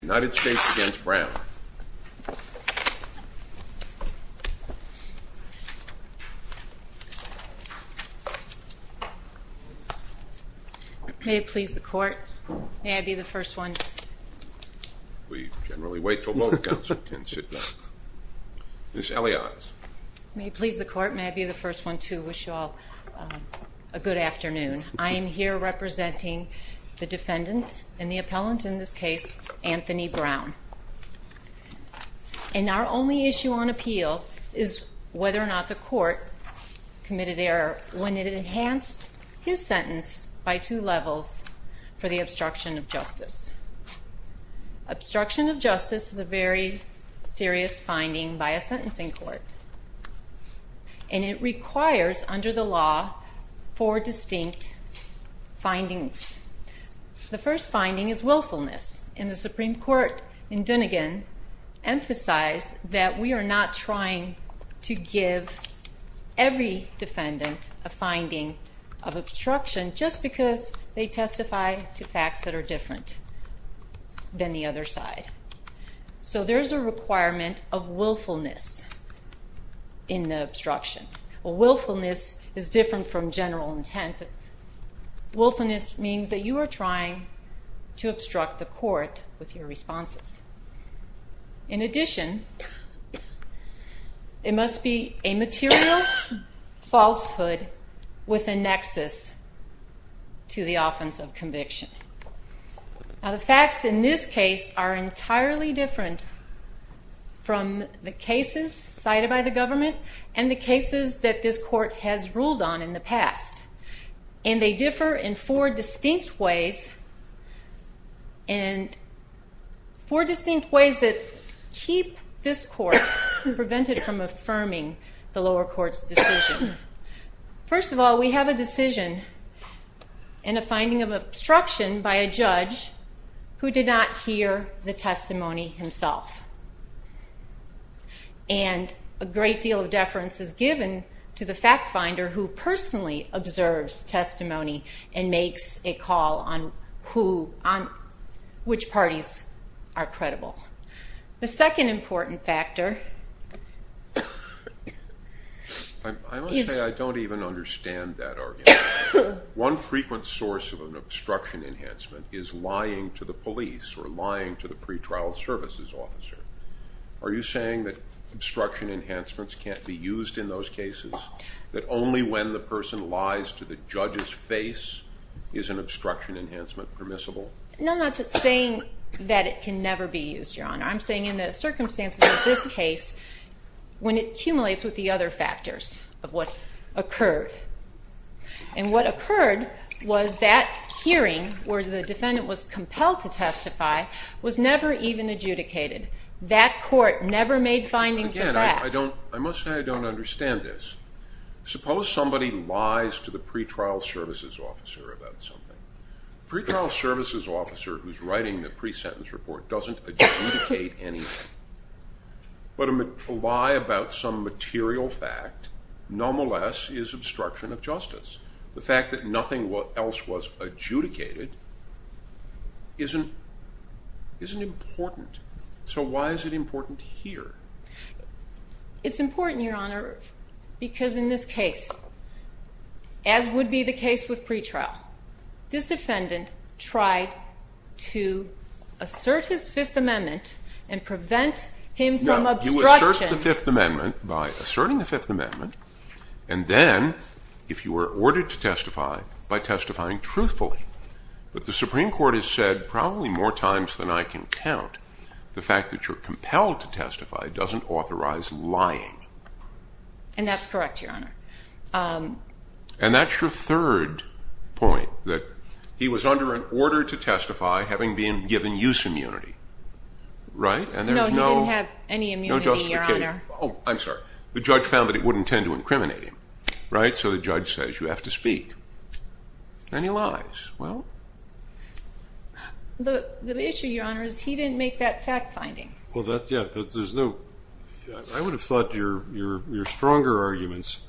United States v. Brown May it please the court, may I be the first one... We generally wait until both counsel can sit down. Ms. Elias. May it please the court, may I be the first one to wish you all a good afternoon. I am here representing the defendant and the appellant in this case, Anthony Brown. And our only issue on appeal is whether or not the court committed error when it enhanced his sentence by two levels for the obstruction of justice. Obstruction of justice is a very serious finding by a sentencing court. And it requires, under the law, four distinct findings. The first finding is willfulness. And the Supreme Court in Dunegan emphasized that we are not trying to give every defendant a finding of obstruction just because they testify to facts that are different than the other side. So there is a requirement of willfulness in the obstruction. Willfulness is different from general intent. Willfulness means that you are trying to obstruct the court with your responses. In addition, it must be a material falsehood with a nexus to the offense of conviction. Now the facts in this case are entirely different from the cases cited by the government and the cases that this court has ruled on in the past. And they differ in four distinct ways that keep this court prevented from affirming the lower court's decision. First of all, we have a decision and a finding of obstruction by a judge who did not hear the testimony himself. And a great deal of deference is given to the fact finder who personally observes testimony and makes a call on which parties are credible. The second important factor is... I must say I don't even understand that argument. One frequent source of an obstruction enhancement is lying to the police or lying to the pretrial services officer. Are you saying that obstruction enhancements can't be used in those cases? That only when the person lies to the judge's face is an obstruction enhancement permissible? No, I'm not just saying that it can never be used, Your Honor. I'm saying in the circumstances of this case, when it accumulates with the other factors of what occurred. And what occurred was that hearing where the defendant was compelled to testify was never even adjudicated. That court never made findings of that. Again, I must say I don't understand this. Suppose somebody lies to the pretrial services officer about something. The pretrial services officer who's writing the pre-sentence report doesn't adjudicate anything. But a lie about some material fact, nonetheless, is obstruction of justice. The fact that nothing else was adjudicated isn't important. So why is it important here? It's important, Your Honor, because in this case, as would be the case with pretrial, this defendant tried to assert his Fifth Amendment and prevent him from obstruction. No, you assert the Fifth Amendment by asserting the Fifth Amendment. And then, if you were ordered to testify, by testifying truthfully. But the Supreme Court has said probably more times than I can count, the fact that you're compelled to testify doesn't authorize lying. And that's correct, Your Honor. And that's your third point, that he was under an order to testify having been given use immunity. Right? No, he didn't have any immunity, Your Honor. No justification. Oh, I'm sorry. The judge found that it wouldn't tend to incriminate him. Right? So the judge says you have to speak. And he lies. Well. The issue, Your Honor, is he didn't make that fact finding. I would have thought your stronger arguments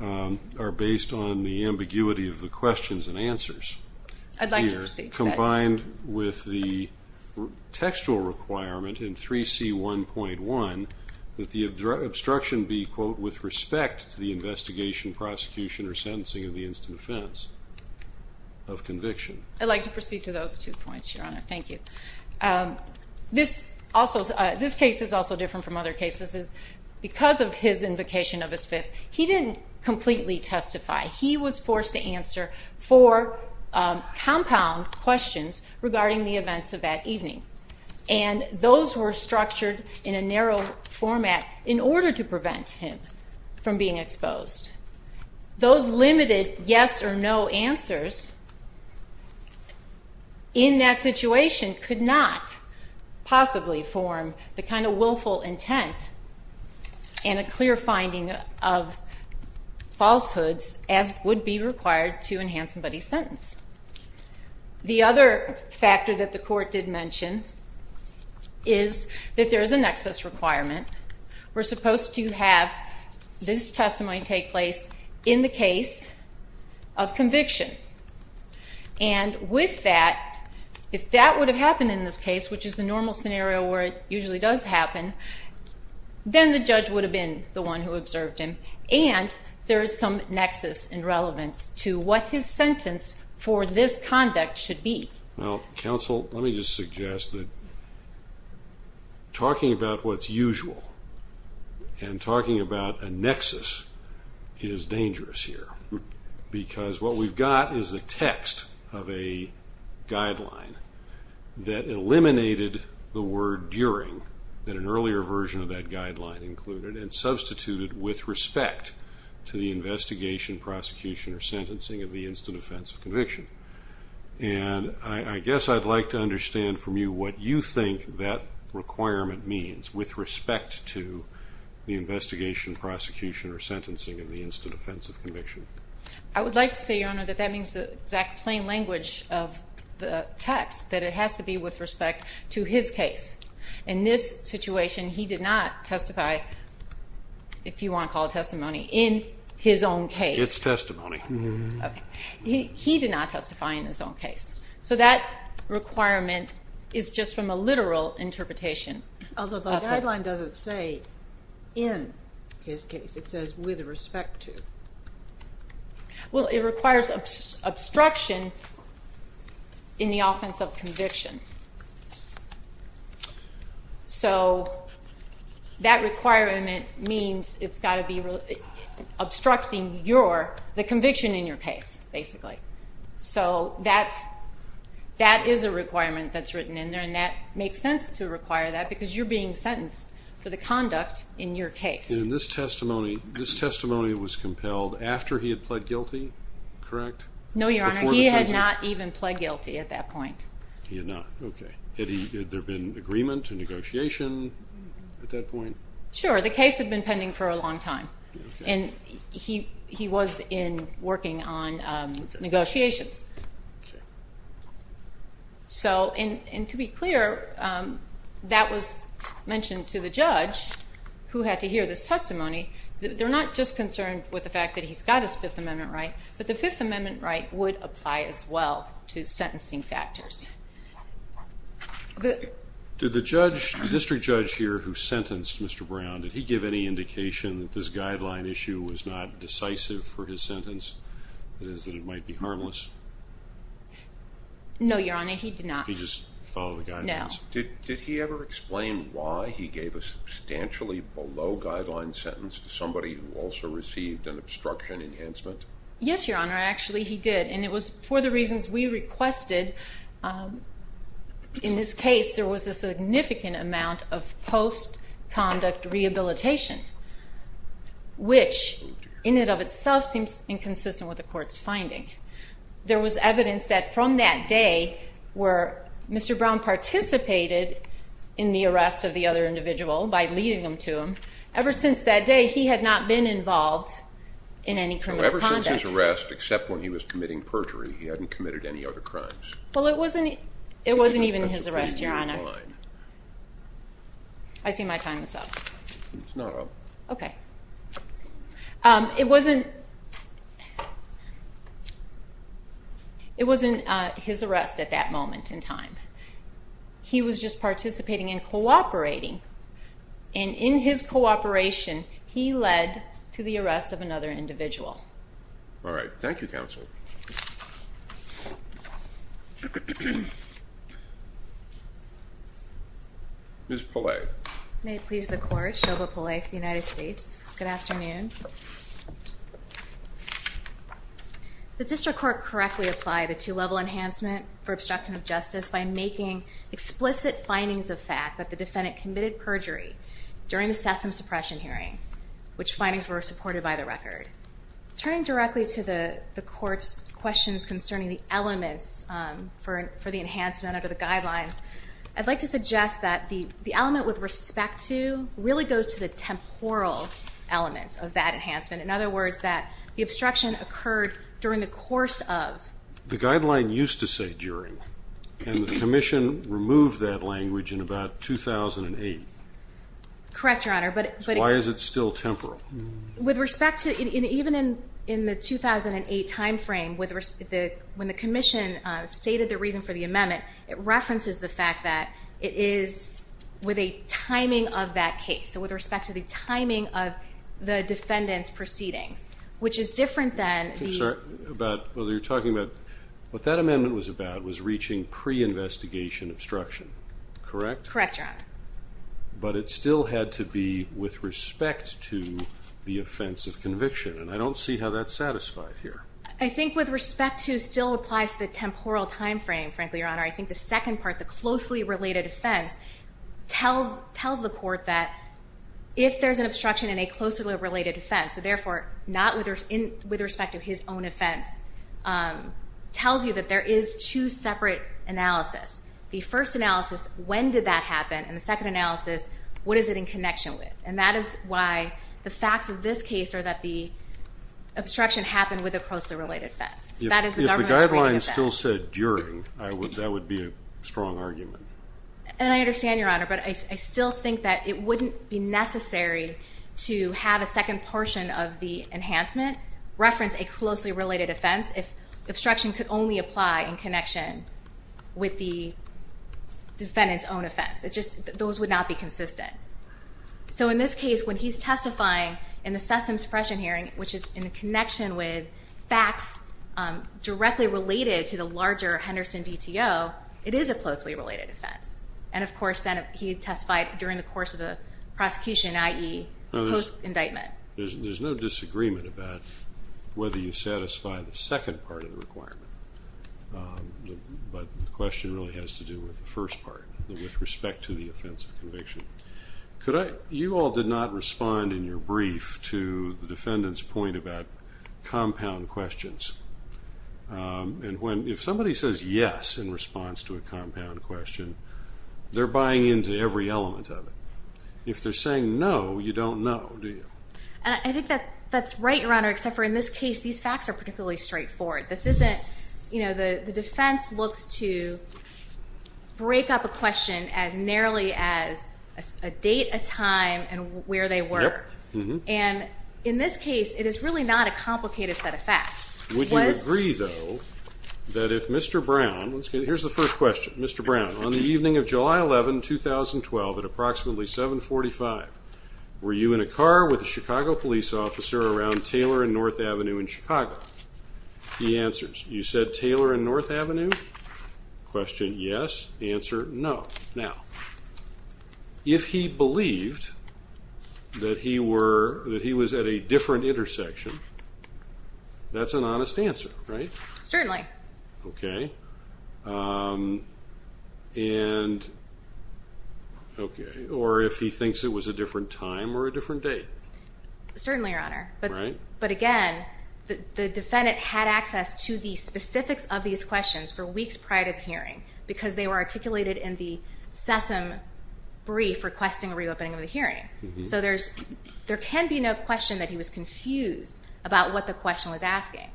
are based on the ambiguity of the questions and answers. I'd like to proceed. Combined with the textual requirement in 3C1.1 that the obstruction be, quote, with respect to the investigation, prosecution, or sentencing of the instant offense of conviction. I'd like to proceed to those two points, Your Honor. Thank you. This case is also different from other cases. Because of his invocation of his fifth, he didn't completely testify. He was forced to answer four compound questions regarding the events of that evening. And those were structured in a narrow format in order to prevent him from being exposed. Those limited yes or no answers in that situation could not possibly form the kind of willful intent and a clear finding of falsehoods as would be required to enhance somebody's sentence. The other factor that the court did mention is that there is an excess requirement. We're supposed to have this testimony take place in the case of conviction. And with that, if that would have happened in this case, which is the normal scenario where it usually does happen, then the judge would have been the one who observed him. And there is some nexus in relevance to what his sentence for this conduct should be. Well, counsel, let me just suggest that talking about what's usual and talking about a nexus is dangerous here. Because what we've got is a text of a guideline that eliminated the word during, that an earlier version of that guideline included, and substituted with respect to the investigation, prosecution, or sentencing of the instant offense of conviction. And I guess I'd like to understand from you what you think that requirement means with respect to the investigation, prosecution, or sentencing of the instant offense of conviction. I would like to say, Your Honor, that that means the exact plain language of the text, that it has to be with respect to his case. In this situation, he did not testify, if you want to call it testimony, in his own case. It's testimony. Okay. He did not testify in his own case. So that requirement is just from a literal interpretation. Although the guideline doesn't say in his case. It says with respect to. Well, it requires obstruction in the offense of conviction. So that requirement means it's got to be obstructing the conviction in your case, basically. So that is a requirement that's written in there, and it makes sense to require that because you're being sentenced for the conduct in your case. And this testimony was compelled after he had pled guilty, correct? No, Your Honor. Before the sentencing? He had not even pled guilty at that point. He had not. Okay. Had there been agreement and negotiation at that point? Sure. The case had been pending for a long time, and he was working on negotiations. And to be clear, that was mentioned to the judge, who had to hear this testimony. They're not just concerned with the fact that he's got his Fifth Amendment right, but the Fifth Amendment right would apply as well to sentencing factors. Did the district judge here who sentenced Mr. Brown, did he give any indication that this guideline issue was not decisive for his sentence, that it might be harmless? No, Your Honor, he did not. He just followed the guidelines? No. Did he ever explain why he gave a substantially below-guideline sentence to somebody who also received an obstruction enhancement? Yes, Your Honor, actually he did. And it was for the reasons we requested. In this case, there was a significant amount of post-conduct rehabilitation, which in and of itself seems inconsistent with the court's finding. There was evidence that from that day where Mr. Brown participated in the arrest of the other individual by leading them to him, ever since that day he had not been involved in any criminal conduct. Ever since his arrest, except when he was committing perjury, he hadn't committed any other crimes? Well, it wasn't even his arrest, Your Honor. I see my time is up. It's not up. Okay. It wasn't his arrest at that moment in time. He was just participating and cooperating. And in his cooperation, he led to the arrest of another individual. All right. Thank you, counsel. Ms. Pallay. May it please the Court, Shelby Pallay for the United States. Good afternoon. Good afternoon. The district court correctly applied a two-level enhancement for obstruction of justice by making explicit findings of fact that the defendant committed perjury during the Sessom suppression hearing, which findings were supported by the record. Turning directly to the court's questions concerning the elements for the enhancement under the guidelines, I'd like to suggest that the element with respect to really goes to the temporal element of that enhancement. In other words, that the obstruction occurred during the course of. The guideline used to say during, and the commission removed that language in about 2008. Correct, Your Honor. So why is it still temporal? With respect to, even in the 2008 timeframe, when the commission stated the reason for the amendment, it references the fact that it is with a timing of that case. So with respect to the timing of the defendant's proceedings, which is different than. I'm sorry. About whether you're talking about. What that amendment was about was reaching pre-investigation obstruction, correct? Correct, Your Honor. But it still had to be with respect to the offense of conviction, and I don't see how that's satisfied here. I think with respect to still applies to the temporal timeframe, frankly, Your Honor. I think the second part, the closely related offense, tells the court that if there's an obstruction in a closely related offense, so therefore not with respect to his own offense, tells you that there is two separate analysis. The first analysis, when did that happen? And the second analysis, what is it in connection with? And that is why the facts of this case are that the obstruction happened with a closely related offense. If the guidelines still said during, that would be a strong argument. And I understand, Your Honor, but I still think that it wouldn't be necessary to have a second portion of the enhancement reference a closely related offense if obstruction could only apply in connection with the defendant's own offense. Those would not be consistent. So in this case, when he's testifying in the Sessom suppression hearing, which is in connection with facts directly related to the larger Henderson DTO, it is a closely related offense. And, of course, then he testified during the course of the prosecution, i.e. post-indictment. There's no disagreement about whether you satisfy the second part of the requirement. But the question really has to do with the first part, with respect to the offense of conviction. You all did not respond in your brief to the defendant's point about compound questions. And if somebody says yes in response to a compound question, they're buying into every element of it. If they're saying no, you don't know, do you? I think that's right, Your Honor, except for in this case, these facts are particularly straightforward. The defense looks to break up a question as narrowly as a date, a time, and where they were. And in this case, it is really not a complicated set of facts. Would you agree, though, that if Mr. Brown, here's the first question. Mr. Brown, on the evening of July 11, 2012, at approximately 745, were you in a car with a Chicago police officer around Taylor and North Avenue in Chicago? He answers, you said Taylor and North Avenue? Question, yes. Answer, no. Now, if he believed that he was at a different intersection, that's an honest answer, right? Certainly. Okay. Or if he thinks it was a different time or a different date? Certainly, Your Honor. Right. But again, the defendant had access to the specifics of these questions for weeks prior to the hearing because they were articulated in the SESM brief requesting a reopening of the hearing. So there can be no question that he was confused about what the question was asking.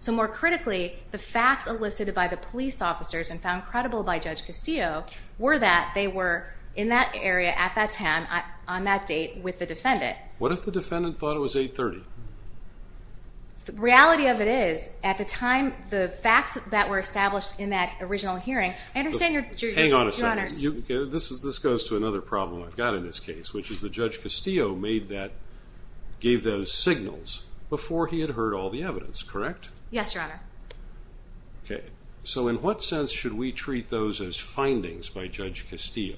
So more critically, the facts elicited by the police officers and found credible by Judge Castillo were that they were in that area at that time, on that date, with the defendant. What if the defendant thought it was 830? The reality of it is, at the time, the facts that were established in that original hearing, I understand your, Your Honor. Hang on a second. This goes to another problem I've got in this case, which is that Judge Castillo gave those signals before he had heard all the evidence, correct? Yes, Your Honor. Okay. So in what sense should we treat those as findings by Judge Castillo?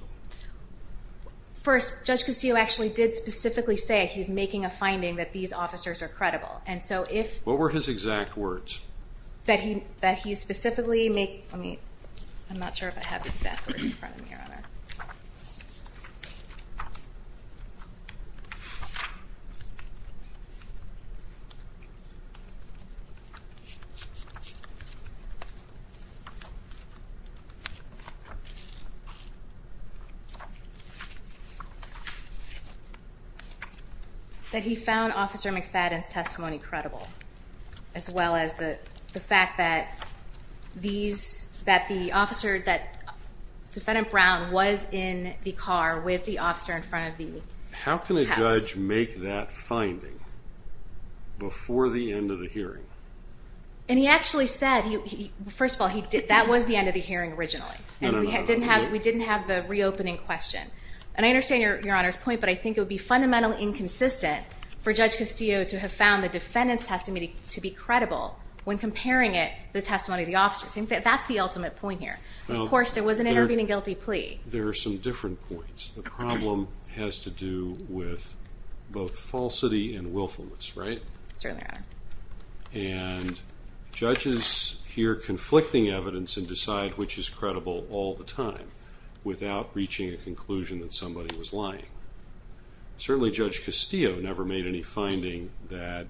First, Judge Castillo actually did specifically say he's making a finding that these officers are credible. What were his exact words? That he specifically madeóI'm not sure if I have exact words in front of me, Your Honor. That he found Officer McFadden's testimony credible, as well as the fact that theseóthat the officeróthat defendant Brown was in the car with the officer in front of the house. How can a judge make that finding before the end of the hearing? And he actually saidófirst of all, that was the end of the hearing originally. No, no, no. We didn't have the reopening question. And I understand Your Honor's point, but I think it would be fundamentally inconsistent for Judge Castillo to have found the defendant's testimony to be credible when comparing it to the testimony of the officers. In fact, that's the ultimate point here. Of course, there was an intervening guilty plea. There are some different points. The problem has to do with both falsity and willfulness, right? Certainly, Your Honor. And judges hear conflicting evidence and decide which is credible all the time without reaching a conclusion that somebody was lying. Certainly, Judge Castillo never made any finding that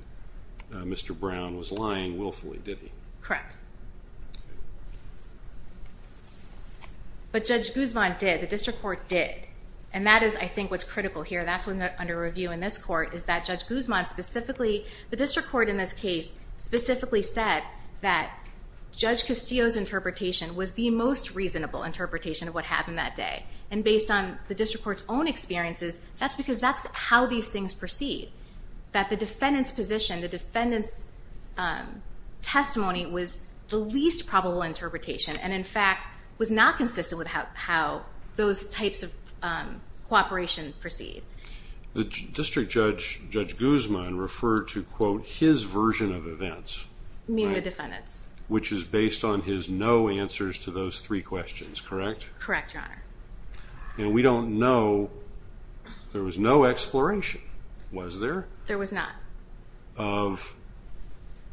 Mr. Brown was lying willfully, did he? Correct. But Judge Guzman did. The district court did. And that is, I think, what's critical here. That's what's under review in this court, is that Judge Guzman specificallyó in this caseóspecifically said that Judge Castillo's interpretation was the most reasonable interpretation of what happened that day. And based on the district court's own experiences, that's because that's how these things proceed. That the defendant's position, the defendant's testimony, was the least probable interpretation and, in fact, was not consistent with how those types of cooperation proceed. The district judge, Judge Guzman, referred to, quote, his version of events. You mean the defendant's? Which is based on his no answers to those three questions, correct? Correct, Your Honor. And we don't knowóthere was no exploration, was there? There was not. Of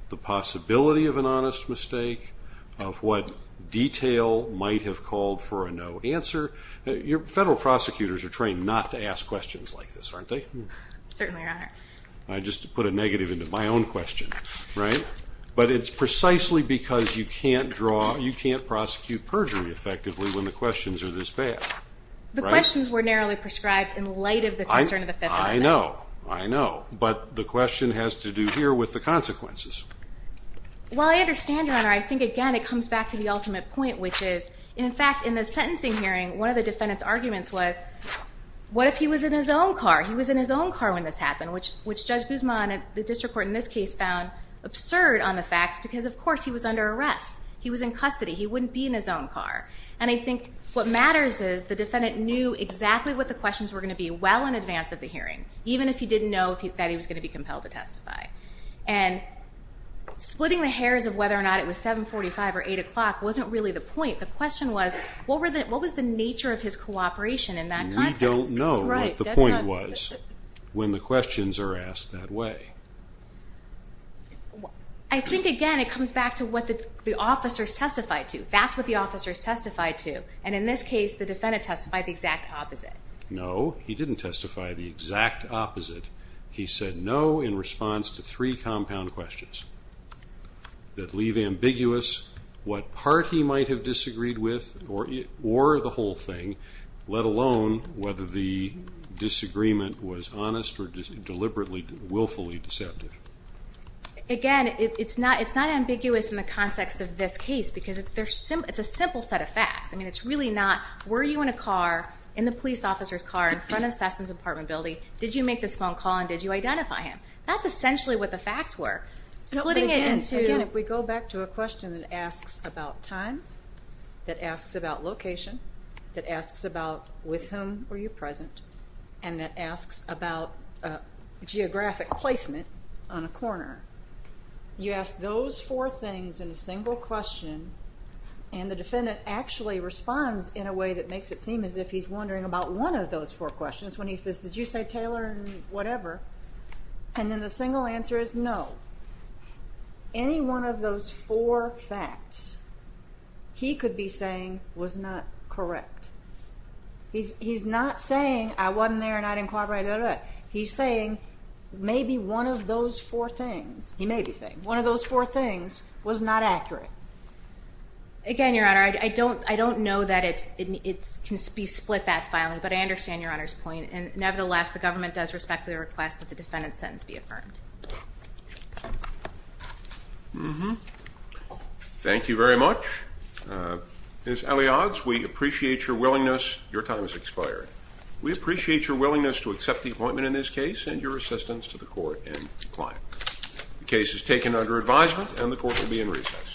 the possibility of an honest mistake, of what detail might have called for a no answer. Federal prosecutors are trained not to ask questions like this, aren't they? Certainly, Your Honor. I just put a negative into my own question, right? But it's precisely because you can't drawóyou can't prosecute perjury effectively when the questions are this bad. The questions were narrowly prescribed in light of the concern of the feds. I know. I know. But the question has to do here with the consequences. Well, I understand, Your Honor. I think, again, it comes back to the ultimate point, which is, in fact, in the sentencing hearing, one of the defendant's arguments was, what if he was in his own car? He was in his own car when this happened, which Judge Guzman, the district court in this case, found absurd on the facts because, of course, he was under arrest. He was in custody. He wouldn't be in his own car. And I think what matters is the defendant knew exactly what the questions were going to be well in advance of the hearing, even if he didn't know that he was going to be compelled to testify. And splitting the hairs of whether or not it was 745 or 8 o'clock wasn't really the point. The question was, what was the nature of his cooperation in that context? We don't know what the point was when the questions are asked that way. I think, again, it comes back to what the officers testified to. That's what the officers testified to. And in this case, the defendant testified the exact opposite. No, he didn't testify the exact opposite. He said no in response to three compound questions that leave ambiguous what part he might have disagreed with or the whole thing, let alone whether the disagreement was honest or deliberately, willfully deceptive. Again, it's not ambiguous in the context of this case because it's a simple set of facts. I mean, it's really not, were you in a car, in the police officer's car, in front of Sessom's apartment building? Did you make this phone call and did you identify him? That's essentially what the facts were. Again, if we go back to a question that asks about time, that asks about location, that asks about with whom were you present, and that asks about geographic placement on a corner, you ask those four things in a single question, and the defendant actually responds in a way that makes it seem as if he's wondering about one of those four questions when he says, did you say Taylor and whatever, and then the single answer is no. Any one of those four facts he could be saying was not correct. He's not saying I wasn't there and I didn't cooperate, blah, blah, blah. He's saying maybe one of those four things, he may be saying, one of those four things was not accurate. Again, Your Honor, I don't know that it can be split that finely, but I understand Your Honor's point, and nevertheless, the government does respect the request that the defendant's sentence be affirmed. Thank you very much. Ms. Eliade, we appreciate your willingness. Your time has expired. We appreciate your willingness to accept the appointment in this case and your assistance to the court and client. The case is taken under advisement and the court will be in recess.